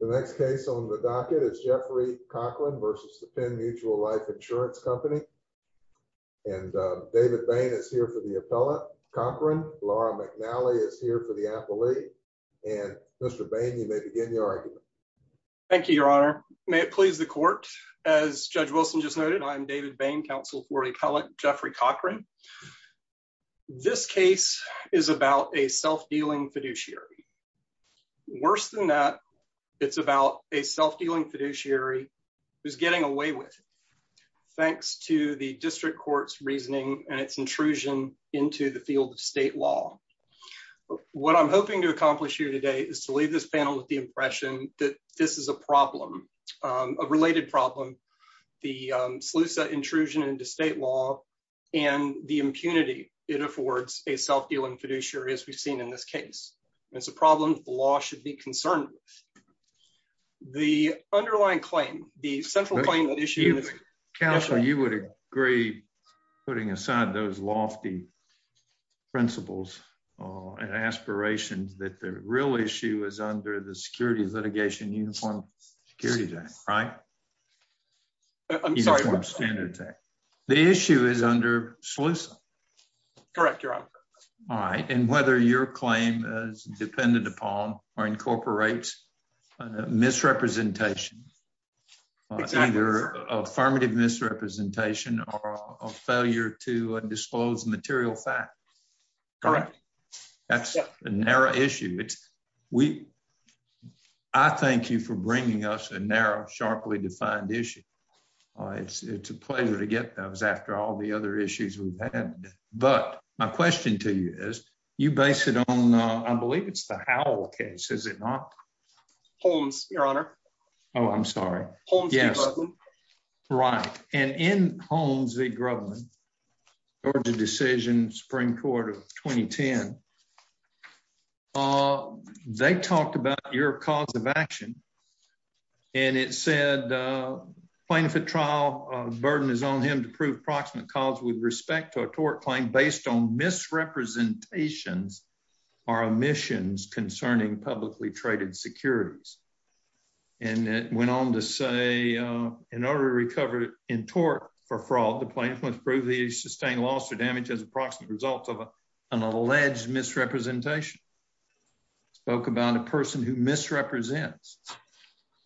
The next case on the docket is Jeffrey Cochran versus the Penn Mutual Life Insurance Company. And David Bain is here for the appellate. Cochran, Laura McNally is here for the appellee. And Mr. Bain, you may begin your argument. Thank you, Your Honor. May it please the court. As Judge Wilson just noted, I'm David Bain, counsel for the appellate Jeffrey Cochran. This case is about a self-dealing fiduciary. Worse than that, it's about a self-dealing fiduciary who's getting away with it thanks to the district court's reasoning and its intrusion into the field of state law. What I'm hoping to accomplish here today is to leave this panel with the impression that this is a problem, a related problem, the SLUSA intrusion into state law and the impunity it affords a self-dealing fiduciary, as we've seen in this case. It's a problem the law should be concerned with. The underlying claim, the central claim that issue... Counsel, you would agree, putting aside those lofty principles and aspirations, that the real issue is under the Security Litigation Uniform Security Act, right? I'm sorry. The issue is under SLUSA. Correct, Your Honor. All right, and whether your claim is dependent upon or incorporates a misrepresentation, it's either affirmative misrepresentation or a failure to disclose material facts. Correct. That's a narrow issue. I thank you for bringing us a narrow, sharply defined issue. It's a pleasure to get those after all the other issues we've had. But my question to you is, you base it on, I believe it's the Howell case, is it not? Holmes, Your Honor. Oh, I'm sorry. Holmes v. Grubman. Right, and in Holmes v. Grubman, Georgia Decision, Supreme Court of 2010, they talked about your cause of action, and it said, plaintiff at trial, burden is on him to prove approximate cause with respect to a tort claim based on misrepresentations or omissions concerning publicly traded securities. And it went on to say, in order to recover in tort for fraud, the plaintiff must prove he sustained loss or damage as approximate results of an alleged misrepresentation. Spoke about a person who misrepresents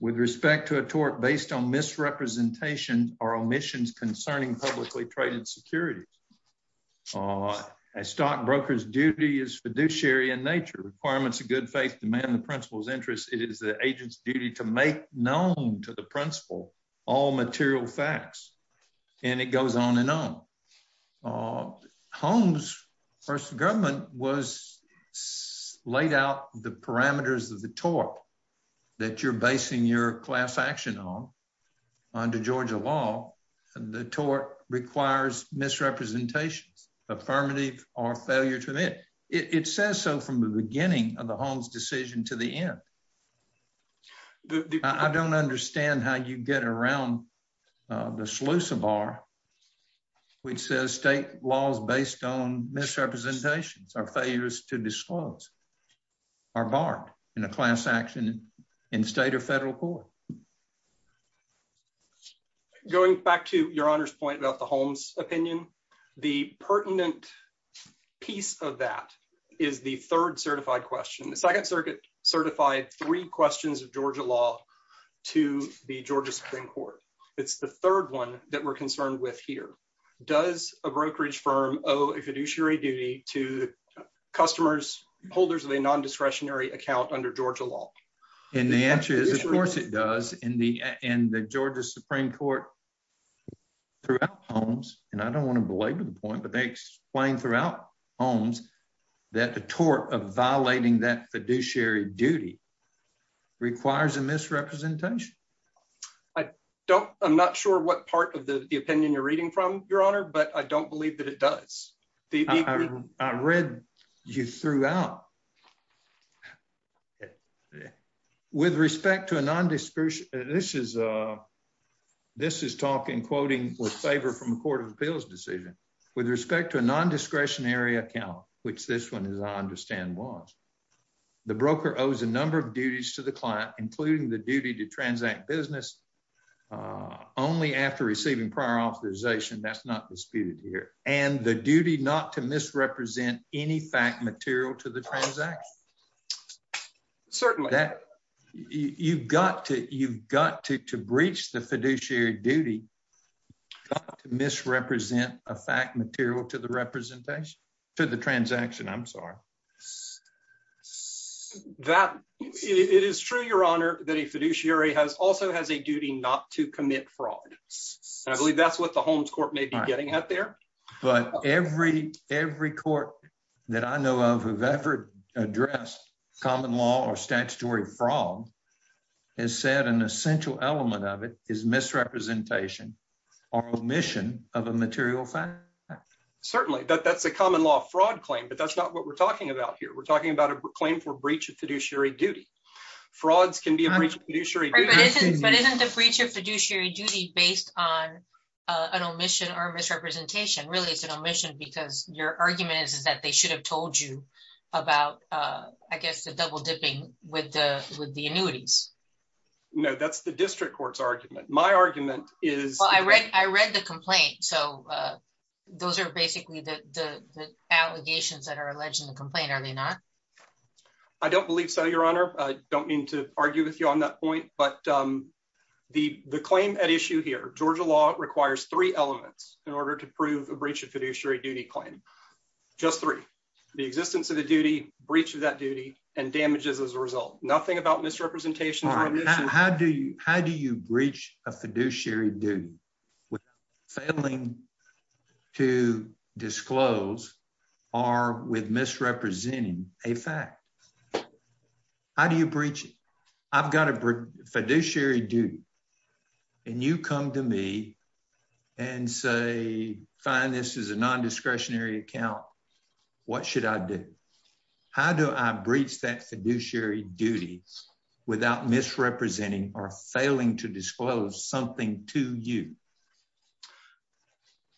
with respect to a tort based on misrepresentations or omissions concerning publicly traded securities. A stockbroker's duty is fiduciary in nature. Requirements of good faith demand the principal's interest. It is the agent's duty to make known to the principal all material facts. And it goes on and on. Holmes v. Grubman laid out the parameters of the tort that you're basing your class action on under Georgia law. The tort requires misrepresentations, affirmative or failure to admit. It says so from the beginning of the Holmes decision to the end. I don't understand how you get around the Slusa Bar, which says state laws based on misrepresentations or failures to disclose are barred in a class action in state or federal court. Going back to your honor's point about the Holmes opinion, the pertinent piece of that is the third certified question. The second circuit certified three questions of Georgia law to the Georgia Supreme Court. It's the third one that we're concerned with here. Does a brokerage firm owe a fiduciary duty to customers, holders of a non-discretionary account under Georgia law? And the answer is, of course it does. And the Georgia Supreme Court throughout Holmes, and I don't want to belabor the point, but they explain throughout Holmes that the tort of violating that fiduciary duty requires a misrepresentation. I don't, I'm not sure what part of the opinion you're reading from your honor, but I don't believe that it does. I read you throughout. With respect to a non-discretionary, this is talking, quoting with favor from the court of appeals decision. With respect to a non-discretionary account, which this one, as I understand was, the broker owes a number of duties to the client, including the duty to transact business only after receiving prior authorization. That's not disputed here. And the duty not to misrepresent any fact material to the transaction. Certainly. You've got to, you've got to breach the fiduciary duty to misrepresent a fact material to the representation, to the transaction. I'm sorry. That, it is true, your honor, that a fiduciary has also has a duty not to commit fraud. And I believe that's what the Holmes court may be getting at there. But every, every court that I know of who've ever addressed common law or statutory fraud has said an essential element of it is misrepresentation or omission of a material fact. Certainly, that's a common law fraud claim, but that's not what we're talking about here. We're talking about a claim for breach of fiduciary duty. Frauds can be a breach of fiduciary duty. But isn't the breach of fiduciary duty based on an omission or misrepresentation? Really, it's an omission because your argument is, is that they should have told you about, I guess, the double dipping with the, with the annuities. No, that's the district court's argument. My argument is. Well, I read, I read the complaint. So those are basically the, the, the allegations that are alleged in the complaint, are they not? I don't believe so, your honor. I don't mean to argue with you on that point, but the, the claim at issue here, Georgia law requires three elements in order to prove a breach of fiduciary duty claim. Just three. The existence of the duty, breach of that duty, and damages as a result. Nothing about misrepresentation or omission. How do you, how do you breach a fiduciary duty with failing to disclose or with misrepresenting a fact? How do you breach it? I've got a fiduciary duty and you come to me and say, fine, this is a non-discretionary account. What should I do? How do I breach that fiduciary duty without misrepresenting or failing to disclose something to you?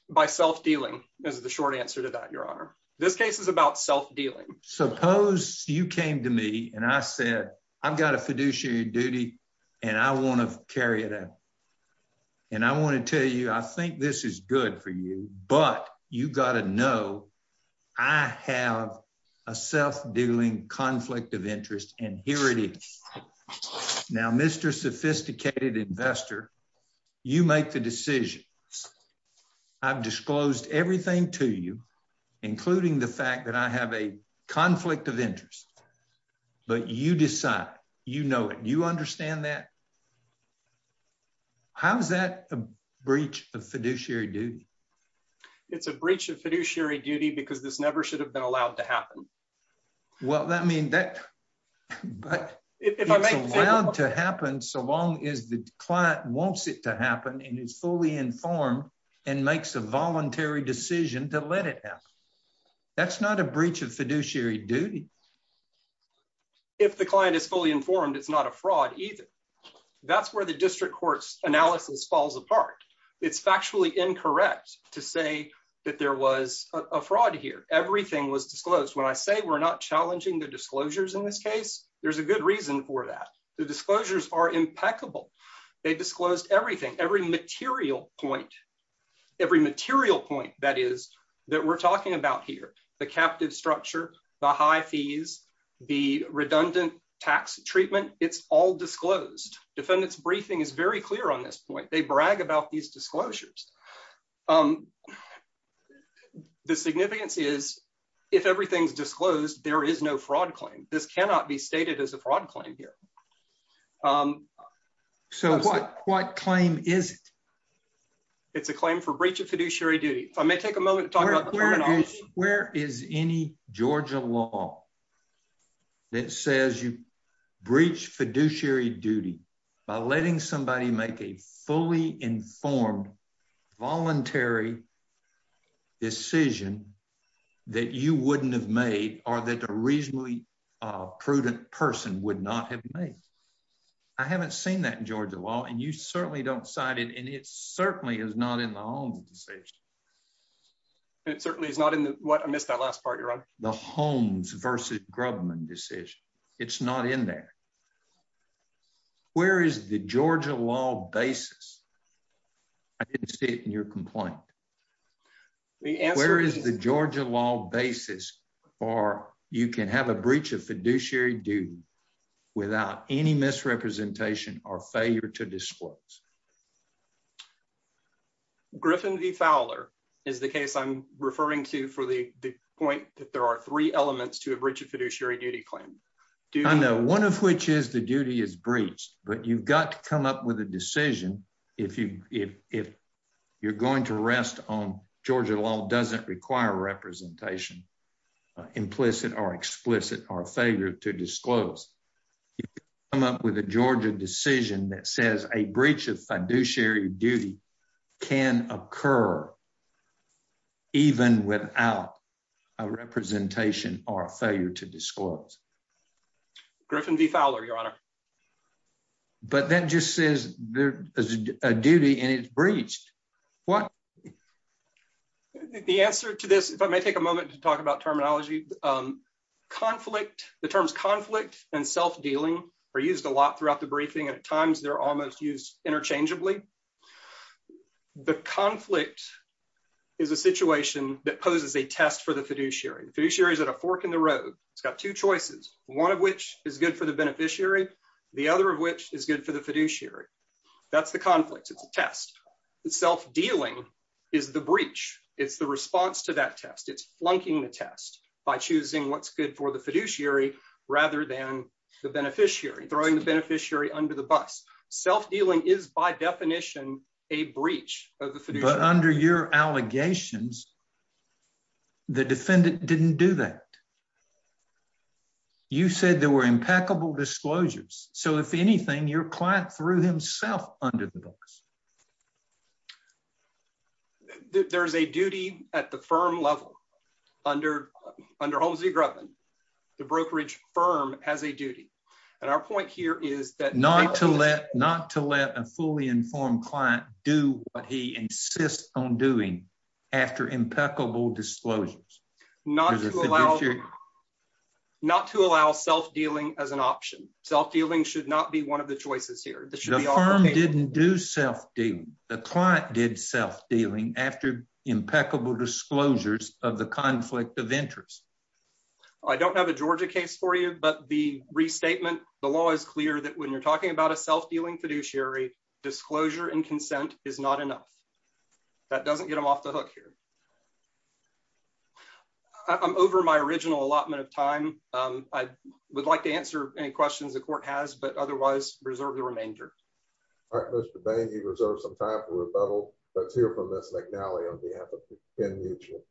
By self-dealing is the short answer to that, your honor. This case is about self-dealing. Suppose you came to me and I said, I've got a fiduciary duty and I want to carry it out. And I want to tell you, I think this is good for you, but you got to know I have a self-dealing conflict of interest and here it is. Now, Mr. Sophisticated Investor, you make the decision. I've disclosed everything to you, including the fact that I have a conflict of interest, but you decide, you know it, you understand that? How is that a breach of fiduciary duty? It's a breach of fiduciary duty because this never should have been allowed to happen. Well, that means that, but it's allowed to happen so long as the client wants it to happen and is fully informed and makes a voluntary decision to let it happen. That's not a breach of fiduciary duty. If the client is fully informed, it's not a fraud either. That's where the district court's analysis falls apart. It's factually incorrect to say that there was a fraud here. Everything was disclosed. When I say we're not challenging the disclosures in this case, there's a good reason for that. The disclosures are impeccable. They disclosed everything. Every material point, every material point, that is, that we're talking about here, the captive structure, the high fees, the redundant tax treatment, it's all disclosed. Defendant's briefing is very clear on this point. They brag about these disclosures. The significance is, if everything's disclosed, there is no fraud claim. This cannot be stated as a fraud claim here. What claim is it? It's a claim for breach of fiduciary duty. I may take a moment to talk about- Where is any Georgia law that says you breach fiduciary duty by letting somebody make a fully informed, voluntary decision that you wouldn't have made or that a reasonably prudent person would not have made? I haven't seen that in Georgia law, and you certainly don't cite it, and it certainly is not in the Holmes decision. It certainly is not in the- What? I missed that last part, Your Honor. The Holmes versus Grubman decision. It's not in there. Where is the Georgia law basis? I didn't see it in your complaint. The answer is- Where is the Georgia law basis for you can have a breach of fiduciary duty without any misrepresentation or failure to disclose? Griffin v. Fowler is the case I'm referring to for the point that there are three elements to a breach of fiduciary duty claim. I know, one of which is the duty is breached, but you've got to come up with a decision if you're going to rest on- Georgia law doesn't require representation, implicit or explicit, or failure to disclose. You can come up with a Georgia decision that says a breach of fiduciary duty can occur even without a representation or but then just says there is a duty and it's breached. What? The answer to this, if I may take a moment to talk about terminology, conflict, the terms conflict and self-dealing are used a lot throughout the briefing, and at times they're almost used interchangeably. The conflict is a situation that poses a test for the fiduciary. The fiduciary is at a fork in the road. It's got two choices, one of which is good for the beneficiary, the other of which is good for the fiduciary. That's the conflict. It's a test. The self-dealing is the breach. It's the response to that test. It's flunking the test by choosing what's good for the fiduciary rather than the beneficiary, throwing the beneficiary under the bus. Self-dealing is by definition a breach of the fiduciary. But under your allegations, the defendant didn't do that. You said there were impeccable disclosures. So if anything, your client threw himself under the bus. There's a duty at the firm level. Under Holmes v. Grubin, the brokerage firm has a duty. And our point here is that not to let not to let a fully informed client do what he insists on doing after impeccable disclosures. Not to allow not to allow self-dealing as an option. Self-dealing should not be one of the choices here. The firm didn't do self-dealing. The client did self-dealing after impeccable disclosures of the conflict of interest. I don't have a Georgia case for you, but the restatement, the law is clear that when you're talking about a doesn't get them off the hook here. I'm over my original allotment of time. I would like to answer any questions the court has, but otherwise reserve the remainder. All right, Mr. Bain, you've reserved some time for rebuttal. Let's hear from Ms. McNally on behalf of Penn Mutual.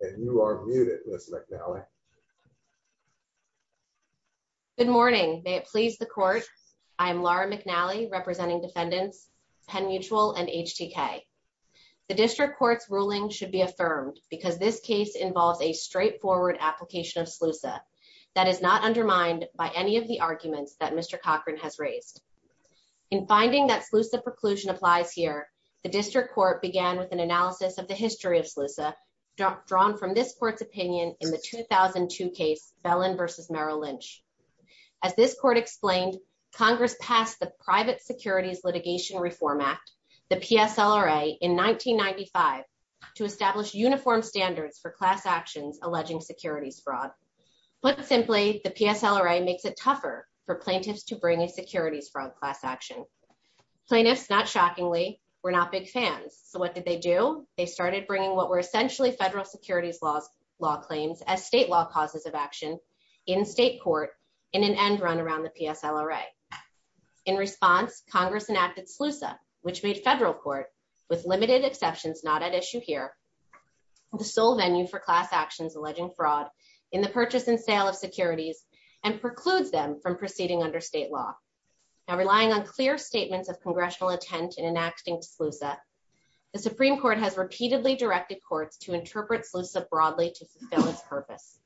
And you are muted, Ms. McNally. Good morning. May it please the court. I am Laura McNally, representing defendants, Penn Mutual and HTK. The district court's ruling should be affirmed because this case involves a straightforward application of SLUSA that is not undermined by any of the arguments that Mr. Cochran has raised. In finding that SLUSA preclusion applies here, the district court began with an analysis of the history of SLUSA drawn from this court's opinion in the 2000s. Case Bellin versus Merrill Lynch. As this court explained, Congress passed the Private Securities Litigation Reform Act, the PSLRA in 1995, to establish uniform standards for class actions alleging securities fraud. Put simply, the PSLRA makes it tougher for plaintiffs to bring a securities fraud class action. Plaintiffs, not shockingly, were not big fans. So what did they do? They started bringing what were essentially federal securities law claims as state law causes of action in state court in an end run around the PSLRA. In response, Congress enacted SLUSA, which made federal court, with limited exceptions not at issue here, the sole venue for class actions alleging fraud in the purchase and sale of securities and precludes them from proceeding under state law. Now relying on clear statements of congressional intent in enacting SLUSA, the Supreme Court has repeatedly directed courts to interpret SLUSA broadly to fulfill its purpose.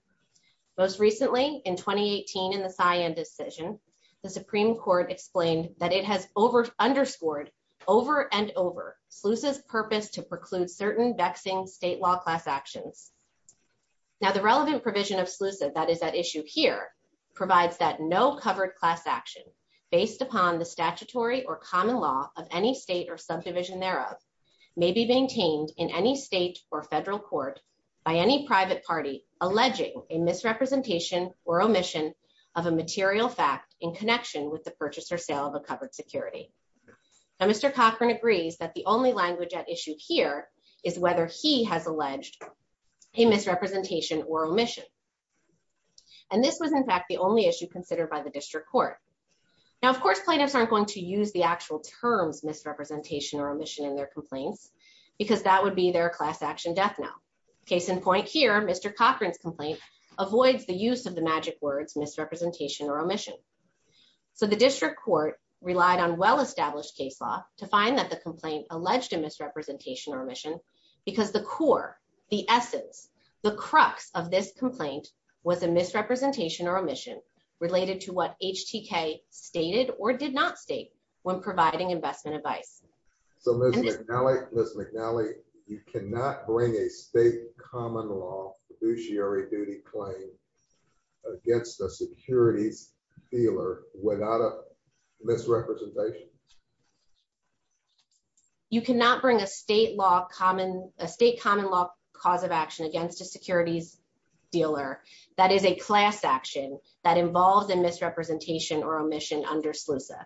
Most recently, in 2018, in the cyan decision, the Supreme Court explained that it has over underscored over and over SLUSA's purpose to preclude certain vexing state law class actions. Now the relevant provision of SLUSA that is at issue here provides that no covered class action based upon the statutory or common law of any state or subdivision thereof may be maintained in any state or federal court by any private party alleging a misrepresentation or omission of a material fact in connection with the purchase or sale of a covered security. Now Mr. Cochran agrees that the only language at issue here is whether he has alleged a misrepresentation or omission. And this was in fact, the only issue considered by the district court. Now of course, plaintiffs aren't going to use the actual terms misrepresentation or omission in their complaints, because that would be their class action death now. Case in point here, Mr. Cochran's complaint avoids the use of the magic words misrepresentation or omission. So the district court relied on well-established case law to find that the complaint alleged a misrepresentation or omission because the core, the essence, the crux of this complaint was a misrepresentation or omission related to what HTK stated or did not state when providing investment advice. So Ms. McNally, you cannot bring a state common law fiduciary duty claim against a securities dealer without a misrepresentation? You cannot bring a state law common, a state common law cause of action against a securities dealer that is a class action that involves a misrepresentation or omission under SLUSA.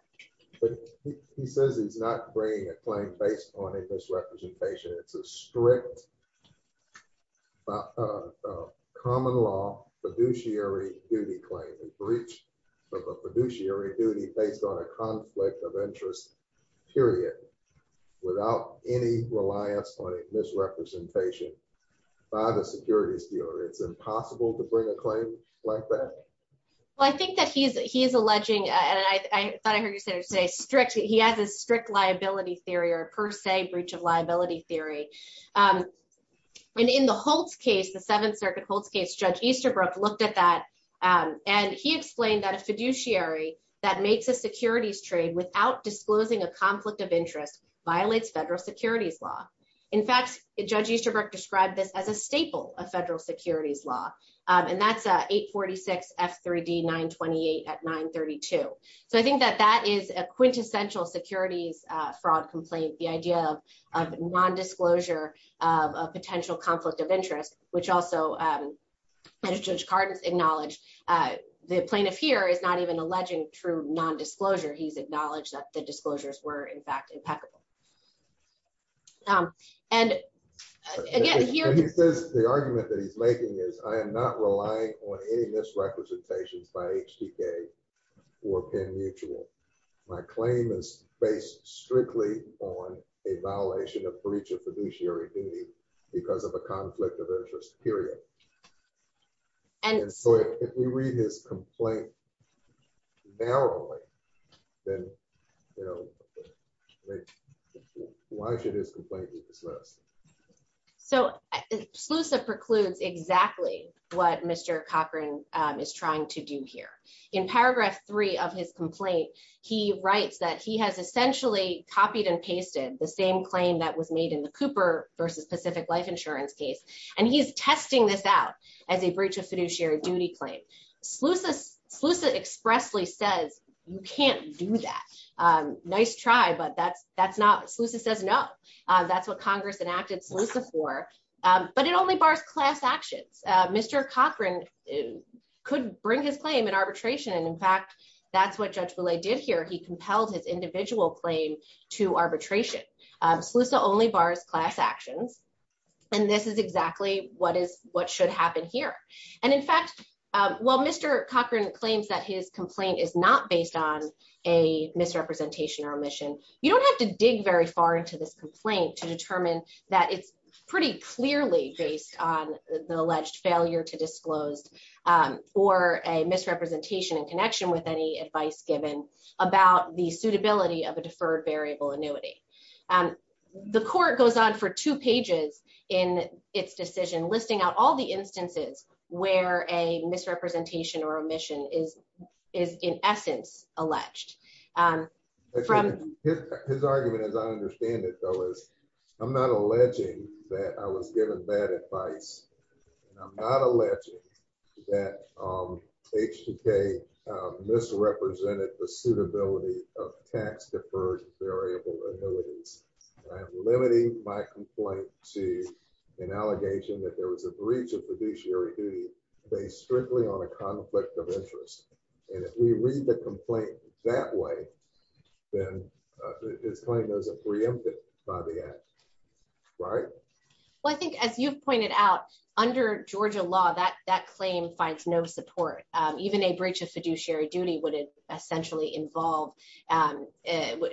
He says he's not bringing a claim based on a misrepresentation. It's a strict common law fiduciary duty claim and breach of a fiduciary duty based on a conflict of interest period without any reliance on a misrepresentation by the securities dealer. It's impossible to bring a claim like that. Well, I think that he's alleging, and I thought I heard you say strict, he has a strict liability theory or per se breach of liability theory. And in the Holtz case, the Seventh Circuit Holtz case, Judge Easterbrook looked at that and he explained that a fiduciary that makes a securities trade without disclosing a conflict of interest violates federal securities law. In fact, Judge Easterbrook described this as a staple of federal securities law and that's 846 F3D 928 at 932. So I think that that is a quintessential securities fraud complaint. The idea of non-disclosure of a potential conflict of interest, which also Judge Cardin's acknowledged, the plaintiff here is not even alleging true non-disclosure. He's acknowledged that the disclosures were in fact impeccable. The argument that he's making is I am not relying on any misrepresentations by HDK or Penn Mutual. My claim is based strictly on a violation of breach of fiduciary duty because of a conflict of interest, period. And so if we read his complaint narrowly, then why should his complaint be dismissed? So Slusa precludes exactly what Mr. Cochran is trying to do here. In paragraph three of his complaint, he writes that he has essentially copied and pasted the same claim that was made in the Cooper versus Pacific Life Insurance case. And he's testing this out as a breach of fiduciary duty claim. Slusa expressly says you can't do that. Nice try, but that's not, Slusa says no. That's what Congress enacted Slusa for, but it only bars class actions. Mr. Cochran could bring his claim in arbitration. And in fact, that's what Judge Boulay did here. He compelled his individual claim to arbitration. Slusa only bars class actions. And this is exactly what should happen here. And in fact, while Mr. Cochran claims that his complaint is not based on a misrepresentation or omission, you don't have to dig very far into this complaint to determine that it's pretty clearly based on the alleged failure to disclose or a misrepresentation in connection with any advice given about the suitability of a deferred variable annuity. The court goes on for two pages in its decision, listing out all the instances where a misrepresentation or omission is in essence alleged. His argument, as I understand it though, is I'm not alleging that I was given bad advice and I'm not alleging that HBK misrepresented the suitability of tax deferred variable annuities. And I'm limiting my complaint to an allegation that there was a breach of fiduciary duty based strictly on a conflict of interest. And if we read the complaint that way, then his claim doesn't preempt it by the end, right? Well, I think as you've pointed out, under Georgia law, that claim finds no support. Even a breach of fiduciary duty would essentially involve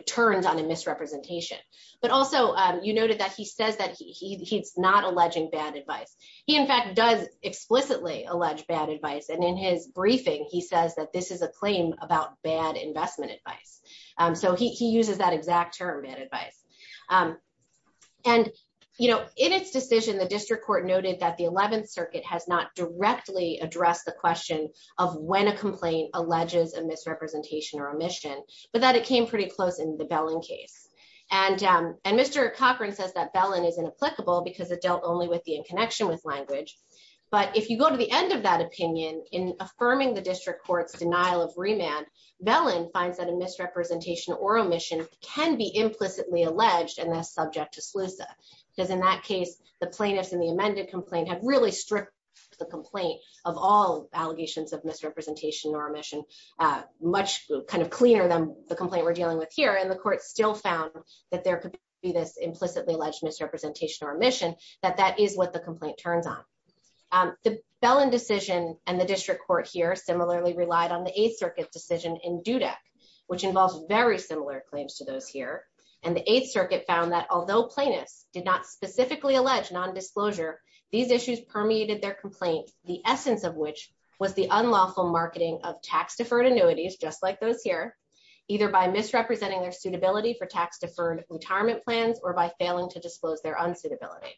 turns on a misrepresentation. But also you noted that he says that he's not alleging bad advice. He in fact does explicitly allege bad advice. And in his briefing, he says that this is a claim about bad investment advice. So he uses that exact term, bad advice. And in its decision, the district court noted that the 11th circuit has not directly addressed the question of when a complaint alleges a misrepresentation or omission, but that it came pretty close in the Bellin case. And Mr. Cochran says that Bellin is inapplicable because it dealt only with the in connection with language. But if you go to the end of that opinion, in affirming the district court's denial of remand, Bellin finds that a misrepresentation or omission can be implicitly alleged and thus subject to SLUSA. Because in that case, the plaintiffs in the amended complaint have really stripped the complaint of all allegations of misrepresentation or omission, much kind of cleaner than the complaint we're dealing with here. And the court still found that there could be this implicitly alleged misrepresentation or omission. But that is what the complaint turns on. The Bellin decision and the district court here similarly relied on the 8th circuit decision in Dudek, which involves very similar claims to those here. And the 8th circuit found that although plaintiffs did not specifically allege non-disclosure, these issues permeated their complaint, the essence of which was the unlawful marketing of tax deferred annuities, just like those here, either by misrepresenting their suitability for tax deferred retirement plans or by failing to disclose their unsuitability.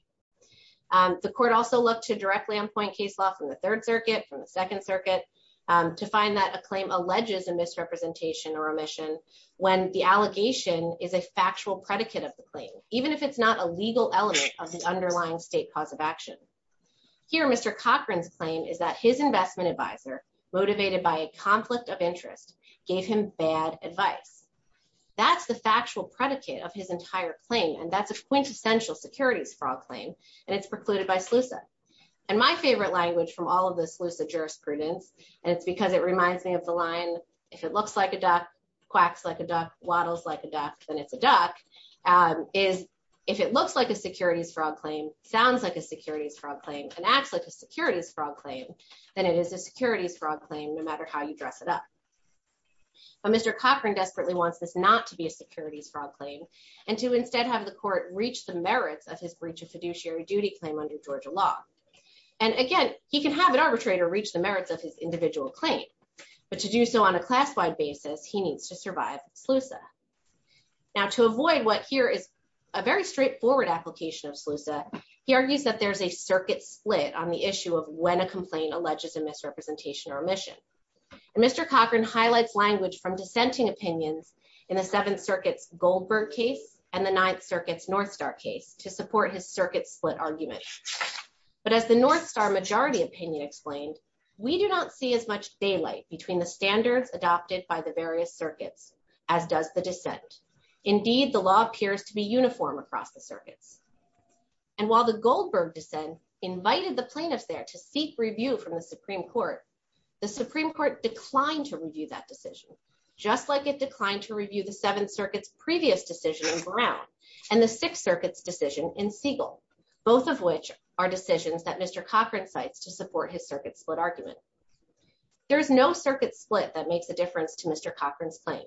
The court also looked to directly on point case law from the 3rd circuit, from the 2nd circuit, to find that a claim alleges a misrepresentation or omission when the allegation is a factual predicate of the claim, even if it's not a legal element of the underlying state cause of action. Here, Mr. Cochran's claim is that his investment advisor, motivated by a conflict of interest, gave him bad advice. That's the factual predicate of his entire claim. And that's a quintessential securities fraud claim, and it's precluded by SLUSA. And my favorite language from all of the SLUSA jurisprudence, and it's because it reminds me of the line, if it looks like a duck, quacks like a duck, waddles like a duck, then it's a duck, is if it looks like a securities fraud claim, sounds like a securities fraud claim, and acts like a securities fraud claim, then it is a securities fraud claim, no matter how you dress it up. But Mr. Cochran desperately wants this not to be a securities fraud claim, and to instead have the court reach the merits of his breach of fiduciary duty claim under Georgia law. And again, he can have an arbitrator reach the merits of his individual claim, but to do so on a class-wide basis, he needs to survive SLUSA. Now, to avoid what here is a very straightforward application of SLUSA, he argues that there's a circuit split on the issue of when a complaint alleges a misrepresentation or omission. And Mr. Cochran highlights language from dissenting opinions in the Seventh Circuit's Goldberg case and the Ninth Circuit's Northstar case to support his circuit split argument. But as the Northstar majority opinion explained, we do not see as much daylight between the standards adopted by the various circuits, as does the dissent. Indeed, the law appears to be uniform across the circuits. And while the Goldberg dissent invited the plaintiffs there to seek review from the Supreme Court, the Supreme Court declined to review that decision, just like it declined to review the Seventh Circuit's previous decision in Brown and the Sixth Circuit's decision in Siegel, both of which are decisions that Mr. Cochran cites to support his circuit split argument. There is no circuit split that makes a difference to Mr. Cochran's claim.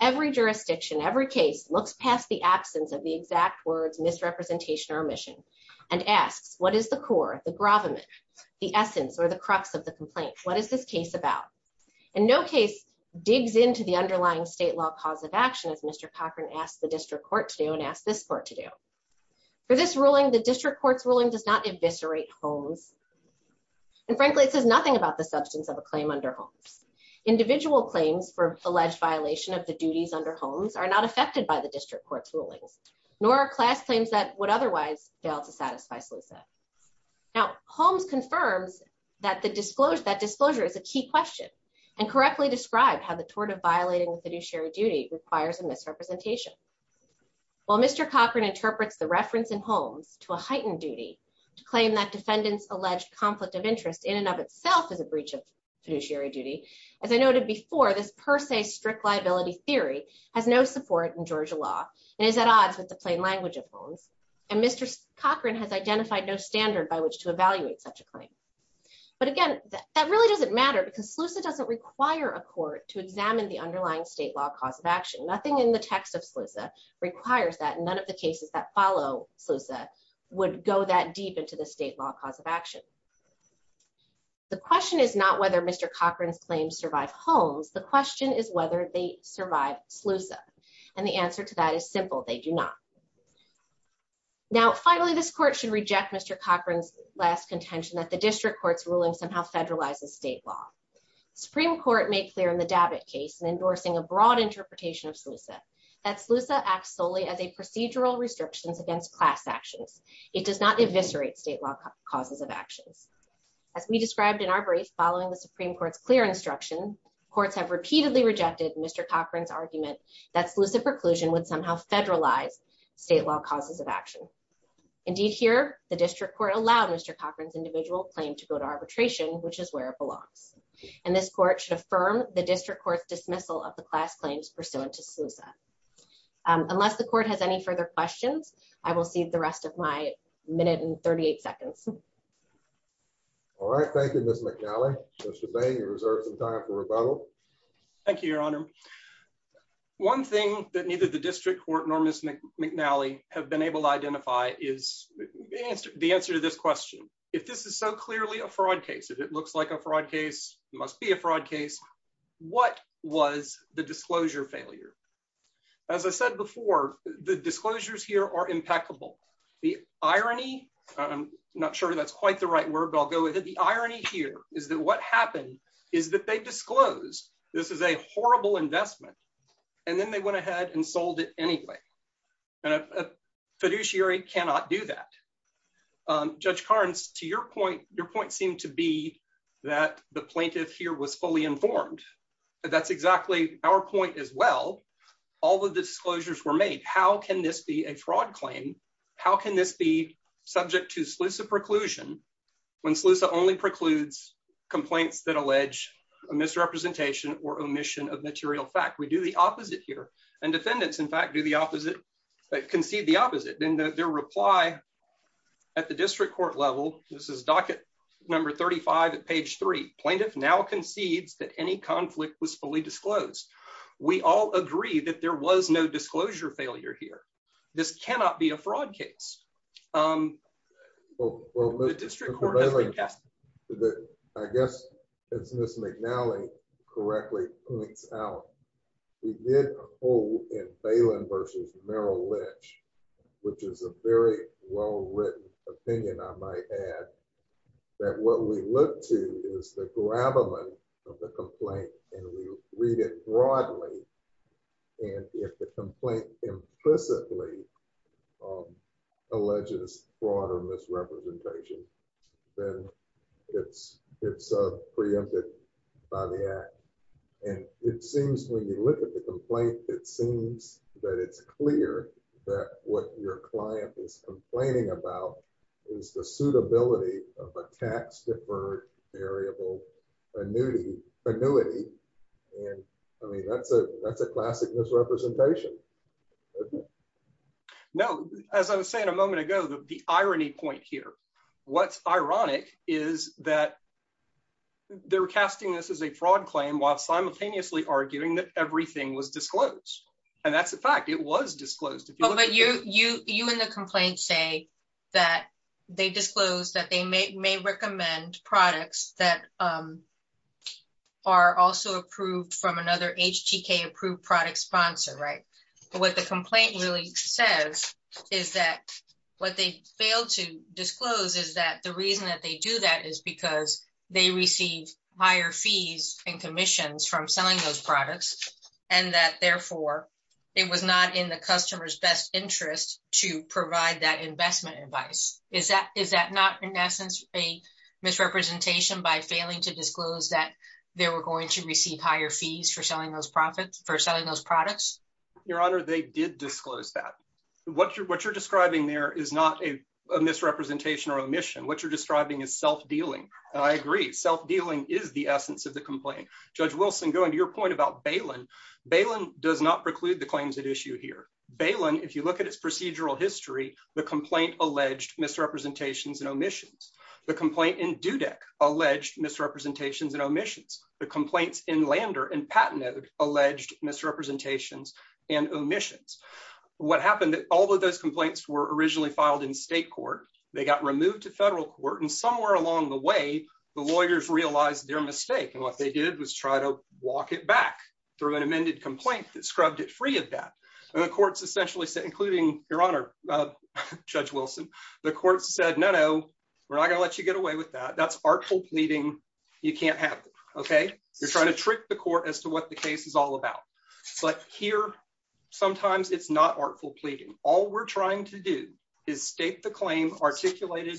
Every jurisdiction, every case looks past the absence of the exact words misrepresentation or omission and asks, what is the core, the gravamen, the essence, or the crux of the complaint? What is this case about? And no case digs into the underlying state law cause of action as Mr. Cochran asked the district court to do and asked this court to do. For this ruling, the district court's ruling does not eviscerate Holmes. And frankly, it says nothing about the substance of a claim under Holmes. Individual claims for alleged violation of the duties under Holmes are not affected by the district court's rulings, nor are class claims that would otherwise fail to satisfy Slusa. Now, Holmes confirms that that disclosure is a key question and correctly described how the tort of violating the fiduciary duty requires a misrepresentation. While Mr. Cochran interprets the reference in Holmes to a heightened duty to claim that defendant's alleged conflict of interest in and of itself is a breach of fiduciary duty, as I noted before, this per se strict liability theory has no support in Georgia law and is at odds with the plain language of Holmes. And Mr. Cochran has identified no standard by which to evaluate such a claim. But again, that really doesn't matter because Slusa doesn't require a court to examine the underlying state law cause of action. Nothing in the text of Slusa requires that, and none of the cases that follow Slusa would go that deep into the state law cause of action. The question is not whether Mr. Cochran's claims survive Holmes. The question is whether they survive Slusa. And the answer to that is simple. They do not. Now, finally, this court should reject Mr. Cochran's last contention that the district court's ruling somehow federalizes state law. Supreme Court made clear in the Dabbitt case, in endorsing a broad interpretation of Slusa, that Slusa acts solely as a procedural restrictions against class actions. It does not eviscerate state law causes of actions. As we described in our brief, following the Supreme Court's clear instruction, courts have repeatedly rejected Mr. Cochran's argument that Slusa preclusion would somehow federalize state law causes of action. Indeed, here, the district court allowed Mr. Cochran's individual claim to go to arbitration, which is where it belongs. And this court should affirm the district court's dismissal of the last claims pursuant to Slusa. Unless the court has any further questions, I will cede the rest of my minute and 38 seconds. All right. Thank you, Ms. McNally. Mr. Bain, you reserve some time for rebuttal. Thank you, Your Honor. One thing that neither the district court nor Ms. McNally have been able to identify is the answer to this question. If this is so clearly a fraud case, it looks like a fraud case, must be a fraud case. What was the disclosure failure? As I said before, the disclosures here are impeccable. The irony, I'm not sure that's quite the right word, but I'll go with it. The irony here is that what happened is that they disclosed this is a horrible investment and then they went ahead and sold it anyway. And a fiduciary cannot do that. Judge Carnes, to your point, your point seemed to be that the plaintiff here was fully informed. That's exactly our point as well. All the disclosures were made. How can this be a fraud claim? How can this be subject to Slusa preclusion when Slusa only precludes complaints that allege a misrepresentation or omission of material fact? We do the opposite here. And defendants, in fact, concede the opposite. In their reply at the district court level, this is docket number 35 at page three, plaintiff now concedes that any conflict was fully disclosed. We all agree that there was no disclosure failure here. This cannot be a fraud case. Um, well, I guess, as Ms. McNally correctly points out, we did a poll in Phelan versus Merrill Lynch, which is a very well written opinion, I might add, that what we look to is the grabbing of the complaint, and we read it broadly. And if the complaint implicitly alleges fraud or misrepresentation, then it's preempted by the act. And it seems when you look at the complaint, it seems that it's clear that what your client is complaining about is the suitability of a tax deferred variable annuity. And I mean, that's a classic misrepresentation, isn't it? No, as I was saying a moment ago, the irony point here, what's ironic is that they're casting this as a fraud claim while simultaneously arguing that everything was disclosed. And that's a fact it was disclosed. But you and the complaint say that they disclosed that they may recommend products that are also approved from another HTK approved product sponsor, right? But what the complaint really says is that what they failed to disclose is that the reason that they do that is because they received higher fees and commissions from selling those products, and that therefore, it was not in the customer's best interest to provide that investment advice. Is that not, in essence, a misrepresentation by failing to disclose that they were going to receive higher fees for selling those products? Your Honor, they did disclose that. What you're describing there is not a misrepresentation or omission. What you're describing is self-dealing. I agree. Self-dealing is the essence of the complaint. Judge Wilson, going to your point about Balin, Balin does not preclude the claims that issue here. Balin, if you look at its procedural history, the complaint alleged misrepresentations and omissions. The complaint in Dudek alleged misrepresentations and omissions. The complaints in Lander and Patinode alleged misrepresentations and omissions. What happened, that all of those complaints were originally filed in state court. They got removed to federal court and somewhere along the way, the lawyers realized their mistake. And what they did was try to walk it back through an amended complaint that scrubbed it free of that. And the courts essentially said, Your Honor, Judge Wilson, the courts said, no, no, we're not going to let you get away with that. That's artful pleading. You can't have it. Okay. You're trying to trick the court as to what the case is all about. But here, sometimes it's not artful pleading. All we're trying to do is state the claim articulated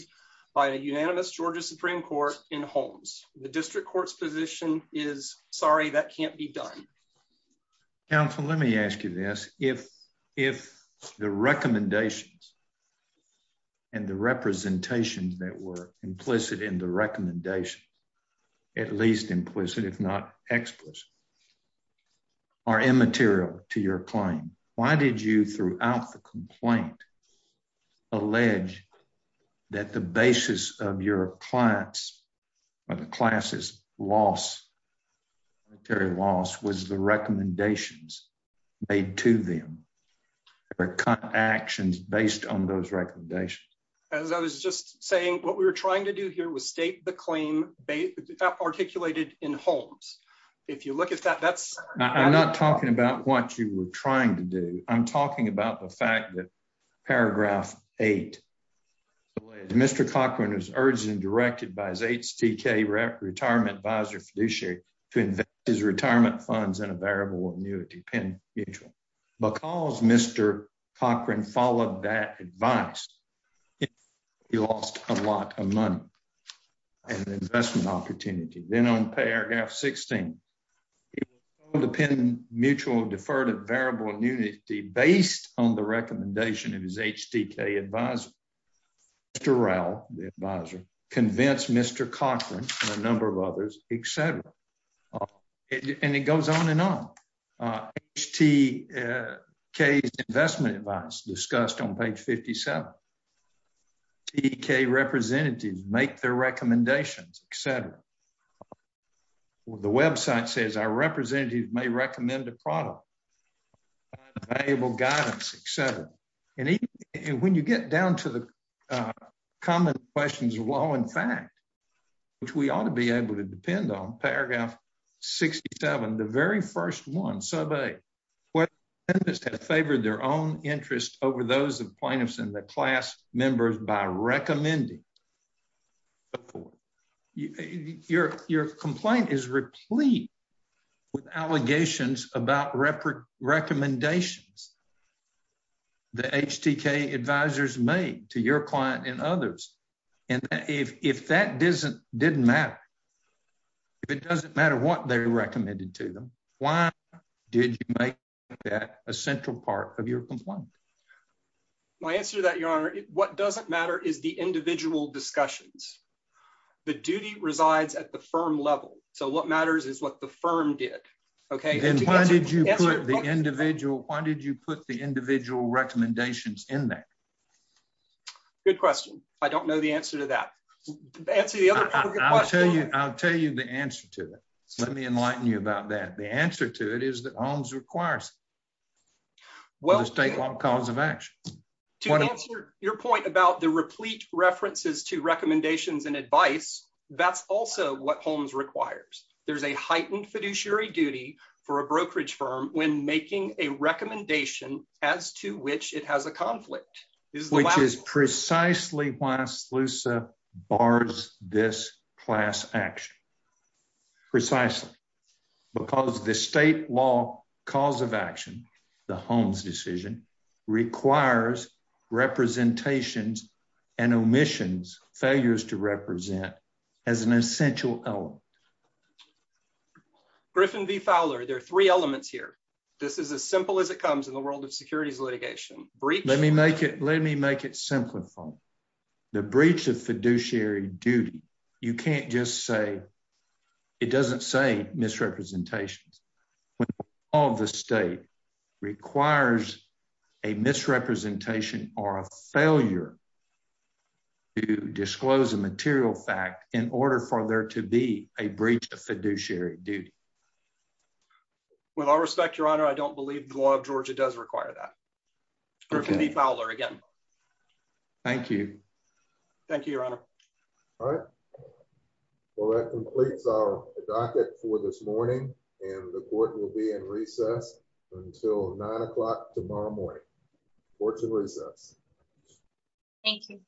by a unanimous Georgia Supreme Court in Holmes. The district court's position is, sorry, that can't be done. Counsel, let me ask you this. If the recommendations and the representations that were implicit in the recommendation, at least implicit, if not explicit, are immaterial to your claim, why did you, throughout the complaint, allege that the basis of your client's or the class's loss, monetary loss, was the recommendations made to them or actions based on those recommendations? As I was just saying, what we were trying to do here was state the claim articulated in Holmes. If you look at that, that's... I'm not talking about what you were trying to do. I'm talking about the fact that paragraph 8, Mr. Cochran was urged and directed by his HTK Retirement Advisor fiduciary to invest his retirement funds in a variable annuity, Penn Mutual. Because Mr. Cochran followed that advice, he lost a lot of money and investment opportunity. Then on paragraph 16, it was told to Penn Mutual deferred a variable annuity based on the recommendation of his HTK advisor. Mr. Rowe, the advisor, convinced Mr. Cochran and a number of others, etc. And it goes on and on. HTK's investment advice discussed on page 57. HTK representatives make their recommendations, etc. The website says our representatives may recommend a product, available guidance, etc. And when you get down to the common questions of law and fact, which we ought to be able to depend on, paragraph 67, the very first one, sub 8, well, this has favored their own interest over those of plaintiffs and the class members by recommending. Your complaint is replete with allegations about recommendations the HTK advisors made to your client and others. And if that didn't matter, if it doesn't matter what they recommended to them, why did you make that a central part of your complaint? My answer to that, your honor, what doesn't matter is the individual discussions. The duty resides at the firm level. So what matters is what the firm did. Okay. And why did you put the individual, why did you put the individual recommendations in there? Good question. I don't know the answer to that. I'll tell you the answer to it. Let me enlighten you about that. The answer to it is that Holmes requires it. Well, the state law cause of action. To answer your point about the replete references to recommendations and advice, that's also what Holmes requires. There's a heightened fiduciary duty for a brokerage firm when making a recommendation as to which it has a conflict. Which is precisely why SLUSA bars this class action. Precisely. Because the state law cause of action, the Holmes decision, requires representations and omissions, failures to represent as an essential element. Griffin v. Fowler, there are three elements here. This is as simple as it comes in the world of law. Let me make it simple. The breach of fiduciary duty, you can't just say, it doesn't say misrepresentations. When all of the state requires a misrepresentation or a failure to disclose a material fact in order for there to be a breach of fiduciary duty. With all respect, your honor, I don't believe the law of Georgia does require that. Griffin v. Fowler, again. Thank you. Thank you, your honor. All right. Well, that completes our docket for this morning. And the court will be in recess until nine o'clock tomorrow morning. Court to recess. Thank you.